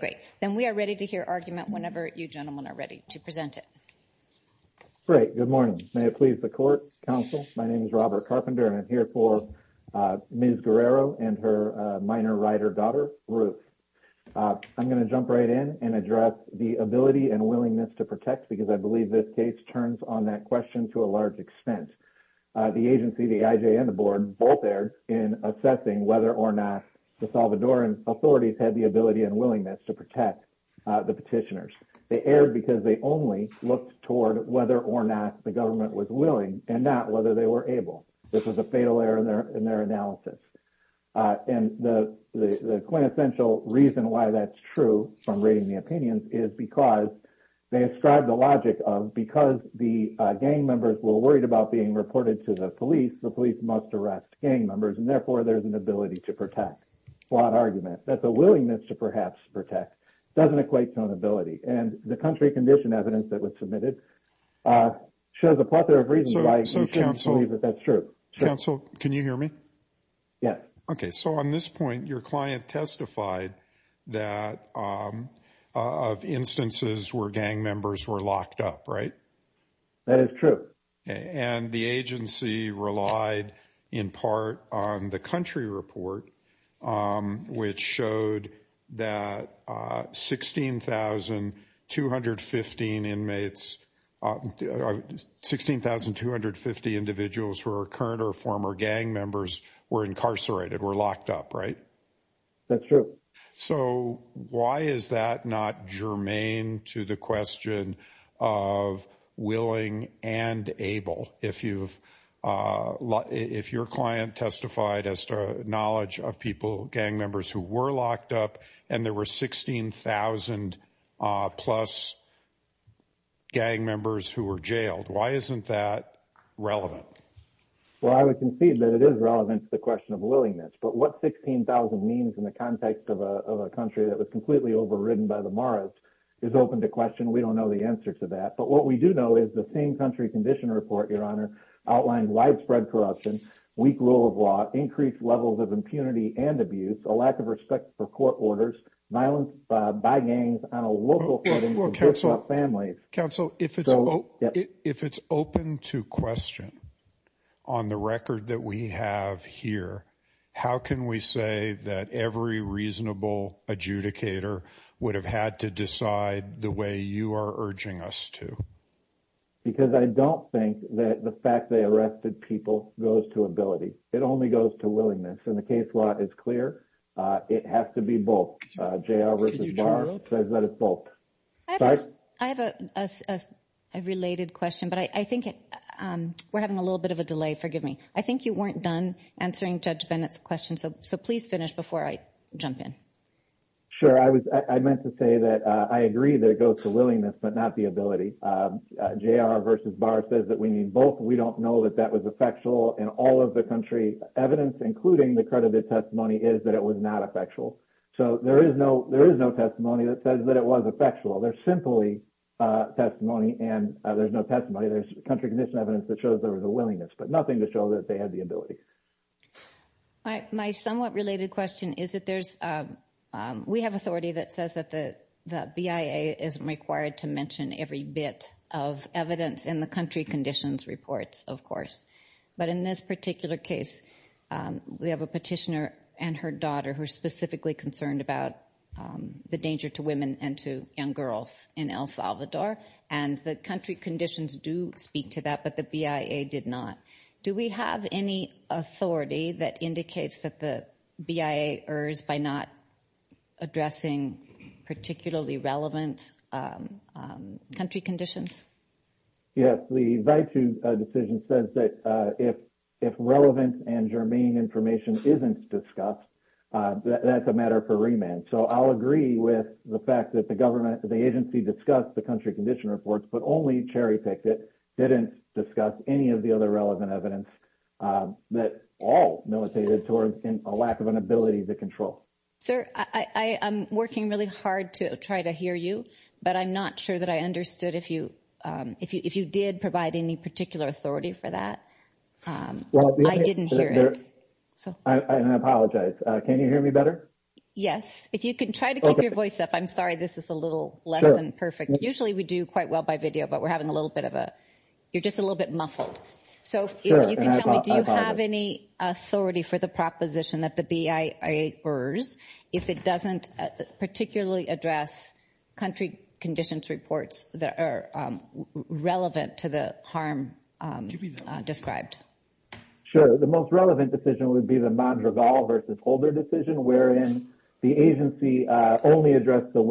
Great. Then we are ready to hear argument whenever you gentlemen are ready to present it. Great. Good morning. May it please the court, counsel. My name is Robert Carpenter and I'm here for Ms. Guerrero and her minor rider daughter Ruth. I'm going to jump right in and address the ability and willingness to protect because I believe this case turns on that question to a large extent. The agency, the IJ and the board both erred in assessing whether or not the Salvadoran authorities had the ability and willingness to protect the petitioners. They erred because they only looked toward whether or not the government was willing and not whether they were able. This was a fatal error in their analysis. And the quintessential reason why that's true from reading the opinions is because they ascribe the logic of because the gang members were worried about being reported to the police, the police must arrest gang members and therefore there's an ability to protect. Flawed argument. That the willingness to perhaps protect doesn't equate to an ability. And the country condition evidence that was submitted shows a plethora of reasons why you shouldn't believe that that's true. Counsel, can you hear me? Yes. Okay. So on this point, your client testified that of instances where gang members were locked up, right? That is true. And the agency relied in part on the country report, which showed that 16,215 inmates, 16,250 individuals who are current or former gang members were incarcerated, were locked up, right? That's true. So why is that not germane to the question of willing and able? If you've, if your client testified as to knowledge of people, gang members who were locked up and there were 16,000 plus gang members who were jailed, why isn't that relevant? Well, I would concede that it is relevant to the question of willingness, but what 16,000 means in the context of a country that was completely overridden by the Mars is open to question. We don't know the answer to that, but what we do know is the same country condition report, your honor outlined widespread corruption, weak rule of law, increased levels of impunity and abuse, a lack of respect for court orders, violence by gangs on a local family. Counsel, if it's, if it's open to question on the record that we have here, how can we say that every reasonable adjudicator would have had to decide the way you are urging us to? Because I don't think that the fact they arrested people goes to ability. It only goes to willingness. And the case law is clear. Uh, it has to be both, uh, JR versus bar says that it's both. I have a, a, a, a related question, but I think, um, we're having a little bit of a delay. Forgive me. I think you weren't done answering judge Bennett's question. So, so please finish before I jump in. Sure. I was, I meant to say that, uh, I agree that it goes to willingness, but not the ability, um, uh, JR versus bar says that we need both. We don't know that that was effectual and all of the country evidence, including the credited testimony is that it was not effectual. So there is no, there is no testimony that says that it was effectual. There's simply, uh, testimony and there's no testimony. There's country condition evidence that shows there was willingness, but nothing to show that they had the ability. All right. My somewhat related question is that there's, um, um, we have authority that says that the, the BIA isn't required to mention every bit of evidence in the country conditions reports, of course. But in this particular case, um, we have a petitioner and her daughter who are specifically concerned about, um, the danger to women and to young girls in El Salvador and the country conditions do speak to that, but the BIA did not. Do we have any authority that indicates that the BIA errs by not addressing particularly relevant, um, um, country conditions? Yes. The invite to a decision says that, uh, if, if relevant and germane information isn't discussed, uh, that that's a matter for remand. So I'll agree with the fact that the government, the agency discussed the country condition reports, but only cherry picked it. Didn't discuss any of the other relevant evidence, um, that all militated towards a lack of an ability to control. Sir, I, I, I'm working really hard to try to hear you, but I'm not sure that I understood if you, um, if you, if you did provide any particular authority for that. Um, I didn't hear it. So I apologize. Uh, can you hear me better? Yes. If you can try to keep your voice up, I'm sorry, this is a little less than perfect. Usually we do quite well by video, but we're having a little bit of a, you're just a little bit muffled. So if you can tell me, do you have any authority for the proposition that the BIA errs if it doesn't particularly address country conditions reports that are, um, relevant to the harm, um, uh, described? Sure. The most relevant decision would be the Mondragon versus older decision, wherein the agency, uh, only addressed the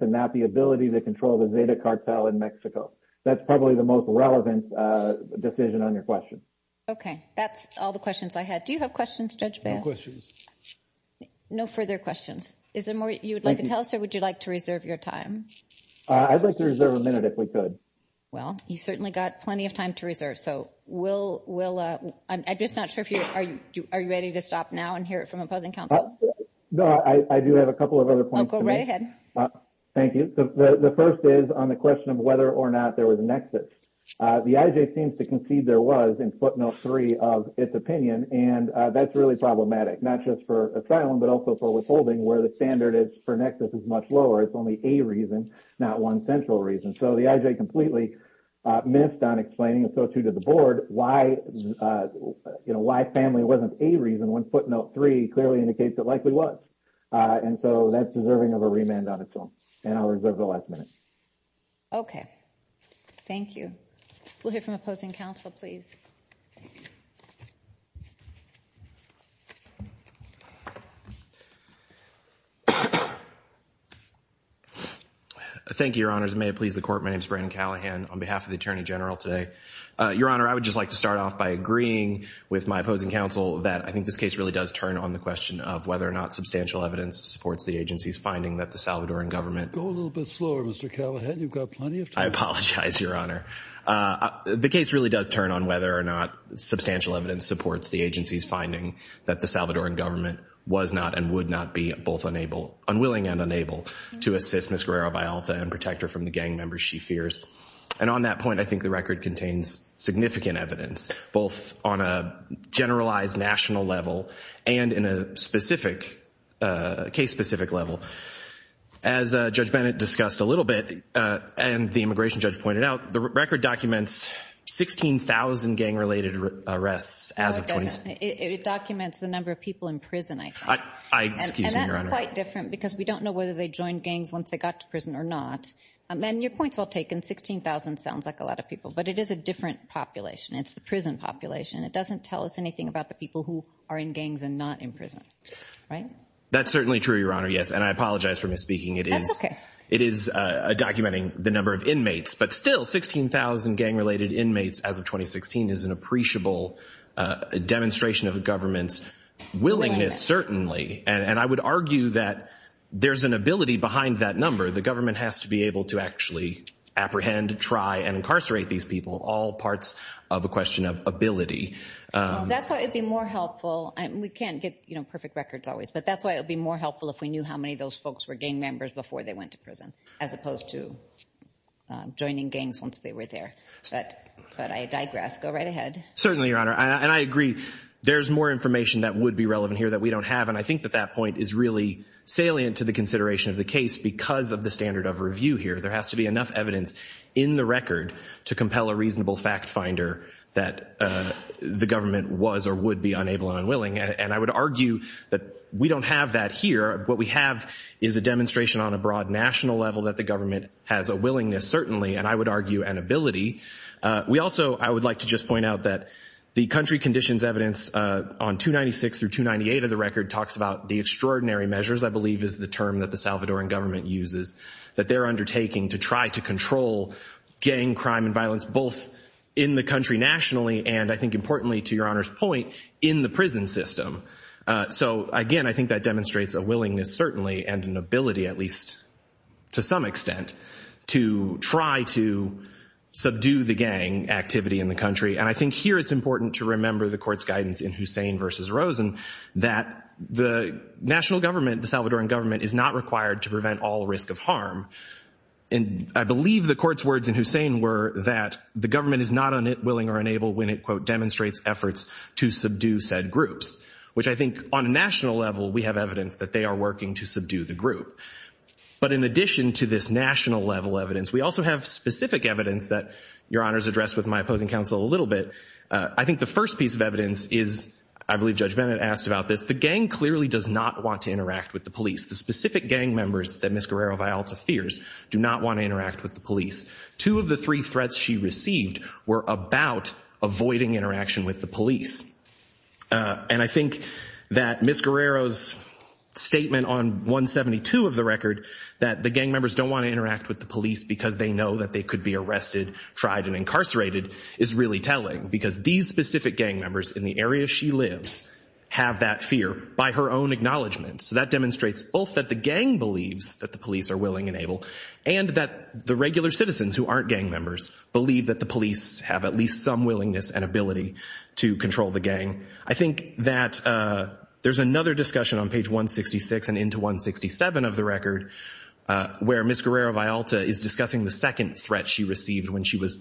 and not the ability to control the data cartel in Mexico. That's probably the most relevant, uh, decision on your question. Okay. That's all the questions I had. Do you have questions? No further questions. Is there more you would like to tell us, or would you like to reserve your time? Uh, I'd like to reserve a minute if we could. Well, you certainly got plenty of time to reserve. So we'll, we'll, uh, I'm just not sure if you, are you, are you ready to stop now and hear it from opposing counsel? No, I do have a couple of other points. Go right ahead. Thank you. The first is on the question of whether or not there was a nexus. Uh, the IJ seems to concede there was in footnote three of its opinion. And, uh, that's really problematic, not just for asylum, but also for withholding where the standard is for nexus is much lower. It's only a reason, not one central reason. So the IJ completely, uh, missed on explaining. And so too, did the board why, uh, you know, why family wasn't a reason when footnote three clearly indicates it likely was. Uh, and so that's deserving of a remand on its own and I'll reserve the last minute. Okay. Thank you. We'll hear from opposing counsel, please. Thank you, your honors. May it please the court. My name is Brandon Callahan on behalf of the agreeing with my opposing counsel that I think this case really does turn on the question of whether or not substantial evidence supports the agency's finding that the Salvadoran government go a little bit slower. Mr. Callahan, you've got plenty of time. I apologize, your honor. Uh, the case really does turn on whether or not substantial evidence supports the agency's finding that the Salvadoran government was not and would not be both unable, unwilling and unable to assist Ms. Guerrero-Vialta and protect her from the gang members she fears. And on that point, I think the record contains significant evidence, both on a generalized national level and in a specific, uh, case specific level. As a judge Bennett discussed a little bit, uh, and the immigration judge pointed out the record documents 16,000 gang related arrests. It documents the number of people in prison. I, I, excuse me, your honor. Because we don't know whether they joined gangs once they got to prison or not. And your point's well taken. 16,000 sounds like a lot of people, but it is a different population. It's the prison population. It doesn't tell us anything about the people who are in gangs and not in prison, right? That's certainly true, your honor. Yes. And I apologize for misspeaking. It is, it is a documenting the number of inmates, but still 16,000 gang related inmates as of 2016 is an appreciable, uh, demonstration of the government's willingness, certainly. And I would argue that there's an ability behind that number. The government has to be able to actually apprehend, try and incarcerate these people, all parts of a question of ability. Um, that's why it'd be more helpful. And we can't get, you know, perfect records always, but that's why it would be more helpful if we knew how many of those folks were gang members before they went to prison as opposed to, um, joining gangs once they were there. But, but I digress, go right ahead. Certainly, your honor. And I agree. There's more information that would be relevant here that we don't have. And I think that that point is really salient to the consideration of the case because of the standard of review here, there has to be enough evidence in the record to compel a reasonable fact finder that, uh, the government was or would be unable and unwilling. And I would argue that we don't have that here. What we have is a demonstration on a broad national level that the government has a willingness, certainly. And I would argue an ability. Uh, we also, I would like to just point out that the country conditions evidence, uh, on two 96 through two 98 of the record talks about the extraordinary measures, I believe is the term that the Salvadoran government uses that they're undertaking to try to control gang crime and violence, both in the country nationally. And I think importantly to your honor's point in the prison system. Uh, so again, I think that demonstrates a willingness certainly, and an ability at least to some extent to try to subdue the gang activity in the country. And I think here it's important to remember the guidance in Hussein versus Rosen, that the national government, the Salvadoran government is not required to prevent all risk of harm. And I believe the court's words in Hussein were that the government is not on it, willing or unable when it quote, demonstrates efforts to subdue said groups, which I think on a national level, we have evidence that they are working to subdue the group. But in addition to this national level evidence, we also have specific evidence that your honor's addressed with my opposing counsel a little bit. Uh, I think the first piece of evidence is, I believe judge Bennett asked about this. The gang clearly does not want to interact with the police. The specific gang members that Ms. Guerrero-Vialta fears do not want to interact with the police. Two of the three threats she received were about avoiding interaction with the police. Uh, and I think that Ms. Guerrero's statement on 172 of the record, that the gang members don't want to interact with the police because they know that they could be arrested, tried and incarcerated is really telling because these specific gang members in the area she lives have that fear by her own acknowledgement. So that demonstrates both that the gang believes that the police are willing and able and that the regular citizens who aren't gang members believe that the police have at least some willingness and ability to control the gang. I think that, uh, there's another discussion on page 166 and into 167 of the record, uh, where Ms. Guerrero-Vialta is discussing the second threat she received when she was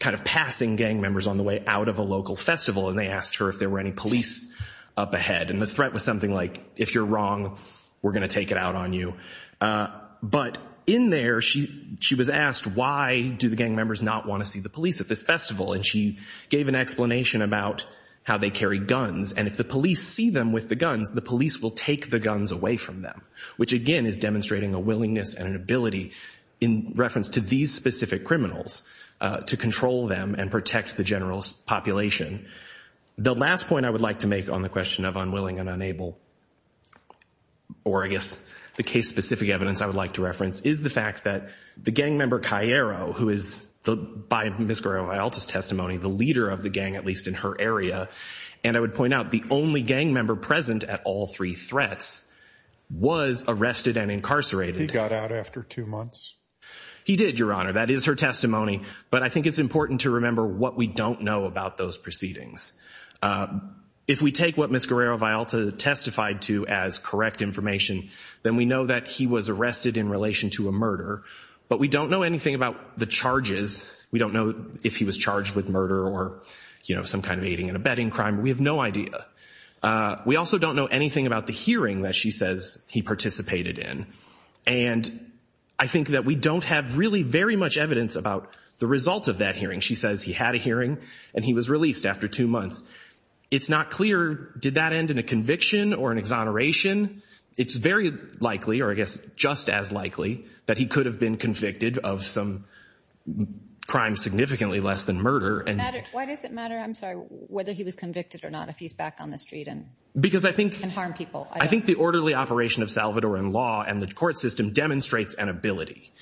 kind of passing gang members on the way out of a local festival. And they asked her if there were any police up ahead. And the threat was something like, if you're wrong, we're going to take it out on you. Uh, but in there she, she was asked, why do the gang members not want to see the police at this festival? And she gave an explanation about how they carry guns. And if the police see them with the guns, the police will take the guns away from them, which again is demonstrating a willingness and an ability in reference to these specific criminals, uh, to control them and protect the general population. The last point I would like to make on the question of unwilling and unable, or I guess the case specific evidence I would like to reference is the fact that the gang member Cairo, who is the, by Ms. Guerrero-Vialta's testimony, the leader of the gang, at least in her area. And I would point out the only gang member present at all three threats was arrested and incarcerated. He got out after two months. He did your honor. That is her testimony. But I think it's important to remember what we don't know about those proceedings. If we take what Ms. Guerrero-Vialta testified to as correct information, then we know that he was arrested in relation to a murder, but we don't know anything about the charges. We don't know if he was charged with murder or, you know, some kind of aiding and abetting crime. We have no idea. Uh, we also don't know anything about the hearing that she says he participated in. And I think that we don't have really very much evidence about the result of that hearing. She says he had a hearing and he was released after two months. It's not clear, did that end in a conviction or an exoneration? It's very likely, or I guess just as likely, that he could have been convicted of some crime significantly less than murder. Why does it matter? I'm sorry, whether he was convicted or not, if he's back on the street and harm people. I think the orderly operation of Salvadoran law and the court system demonstrates an ability,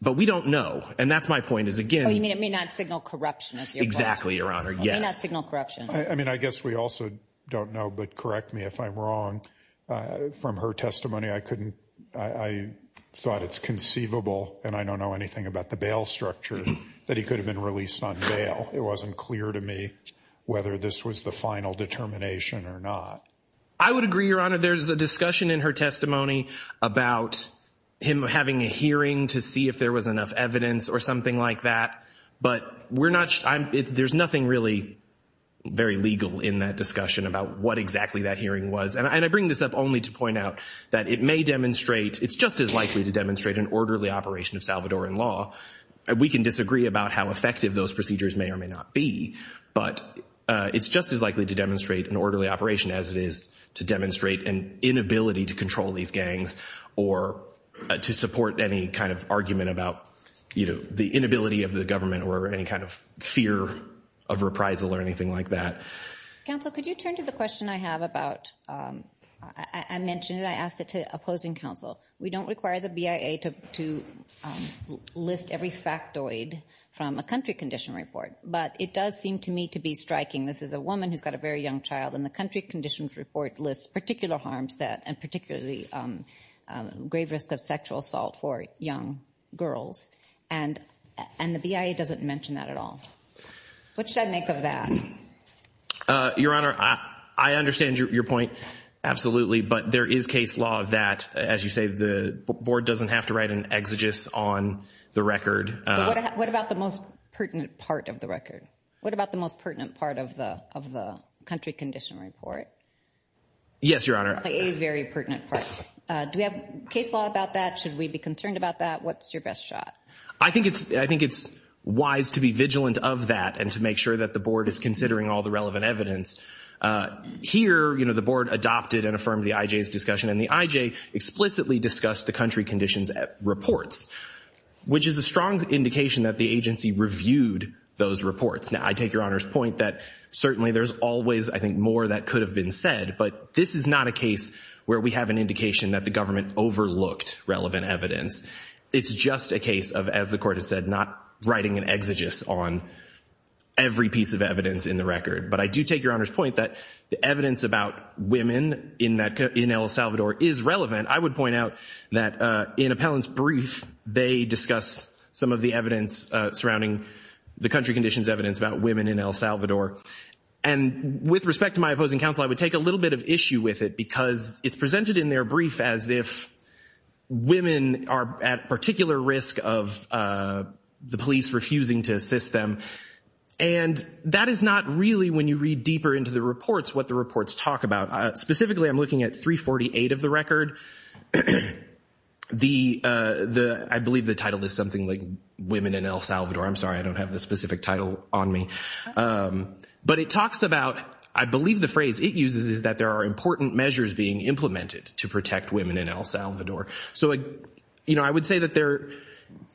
but we don't know. And that's my point is again, it may not signal corruption. Exactly. Your honor. Yes. I mean, I guess we also don't know, but correct me if I'm wrong. Uh, from her testimony, I couldn't, I thought it's conceivable. And I don't know anything about the bail structure that he could have been released on bail. It wasn't clear to me whether this was the final determination or not. I would agree your honor. There's a discussion in her testimony about him having a hearing to see if there was enough evidence or something like that, but we're not, I'm it's, there's nothing really very legal in that discussion about what exactly that hearing was. And I bring this up only to point out that it may demonstrate, it's just as likely to demonstrate an orderly operation of Salvadoran law. We can disagree about how effective those procedures may or may not be, but, uh, it's just as likely to demonstrate an orderly operation as it is to demonstrate an inability to control these gangs or to support any kind of argument about, you know, the inability of the government or any kind of fear of reprisal or anything like that. Counsel, could you turn to the question I have about, um, I mentioned it, I asked it to opposing counsel. We don't require the BIA to, to, um, list every factoid from a country condition report, but it does seem to me to be striking. This is a woman who's got a very young child and the country conditions report lists particular harms that, and particularly, um, um, grave risk of sexual assault for young girls. And, and the BIA doesn't mention that at all. What should I make of that? Uh, your honor, I, I understand your point. Absolutely. But there is case law that, as you say, the board doesn't have to write an exegesis on the record. What about the most pertinent part of the record? What about the most pertinent part of the, of the country condition report? Yes, your honor. A very pertinent part. Uh, do we have case law about that? Should we be concerned about that? What's your best shot? I think it's, I think it's wise to be vigilant of that and to make sure that the board is considering all the relevant evidence. Uh, here, you know, the board adopted and affirmed the IJ's discussion and the IJ explicitly discussed the country conditions at reports, which is a strong indication that the agency reviewed those reports. Now I take your honor's point that certainly there's always, I think, more that could have been said, but this is not a case where we have an indication that the government overlooked relevant evidence. It's just a case of, as the court has said, not writing an exegesis on every piece of evidence in the record. But I do take your honor's point that the evidence about women in that, in El Salvador is relevant. I would point out that, uh, in appellant's brief, they discuss some of the evidence, uh, surrounding the country conditions, evidence about women in El Salvador. And with respect to my opposing counsel, I would take a little bit of issue with it because it's presented in their brief as if women are at particular risk of, uh, the police refusing to assist them. And that is not really, when you read deeper into the reports, what the reports talk about. Specifically, I'm looking at 348 of the record. The, uh, the, I believe the title is something like women in El Salvador. I'm sorry, I don't have the specific title on me. Um, but it talks about, I believe the phrase it uses is that there are important measures being implemented to protect women in El Salvador. So, uh, you know, I would say that there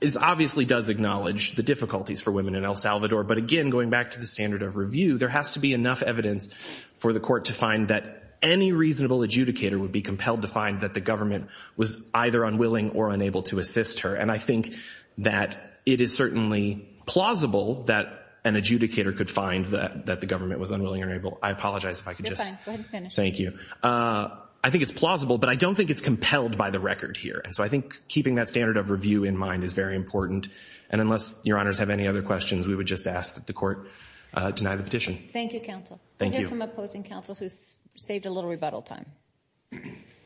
is obviously does acknowledge the difficulties for women in El Salvador, but again, going back to the standard of review, there has to be enough evidence for the court to find that any reasonable adjudicator would be compelled to find that the government was either unwilling or unable to assist her. And I think that it is certainly plausible that an adjudicator could find that, that the government was unwilling or able, I apologize if I could just, thank you. Uh, I think it's plausible, but I don't think it's here. And so I think keeping that standard of review in mind is very important. And unless your honors have any other questions, we would just ask that the court, uh, deny the petition. Thank you, counsel. I hear from opposing counsel who's saved a little rebuttal time.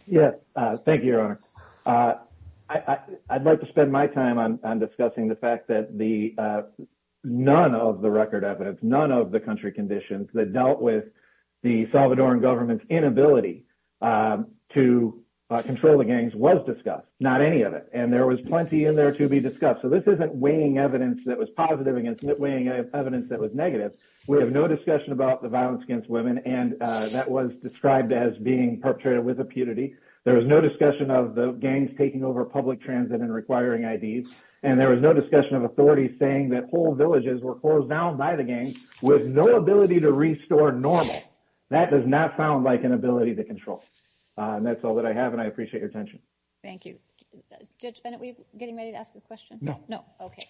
Yes. Uh, thank you, your honor. Uh, I, I, I'd like to spend my time on, on discussing the fact that the, uh, none of the record evidence, none of the country conditions that dealt with the Salvadoran government's inability, um, to control the gangs was discussed, not any of it. And there was plenty in there to be discussed. So this isn't weighing evidence that was positive against weighting evidence that was negative. We have no discussion about the violence against women. And, uh, that was described as being perpetrated with impunity. There was no discussion of the gangs taking over public transit and requiring IDs. And there was no discussion of authority saying that whole villages were closed down by the gangs with no ability to restore normal. That does not sound like an ability to control. Uh, and that's all that I have. And I appreciate your attention. Thank you. Judge Bennett, we getting ready to ask the question? No. No. Okay.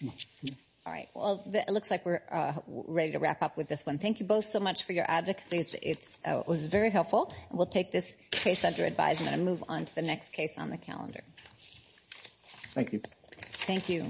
All right. Well, it looks like we're, uh, ready to wrap up with this one. Thank you both so much for your advocacy. It's, uh, it was very helpful and we'll take this case under advisement and move on to the next case on the calendar. Thank you. Thank you.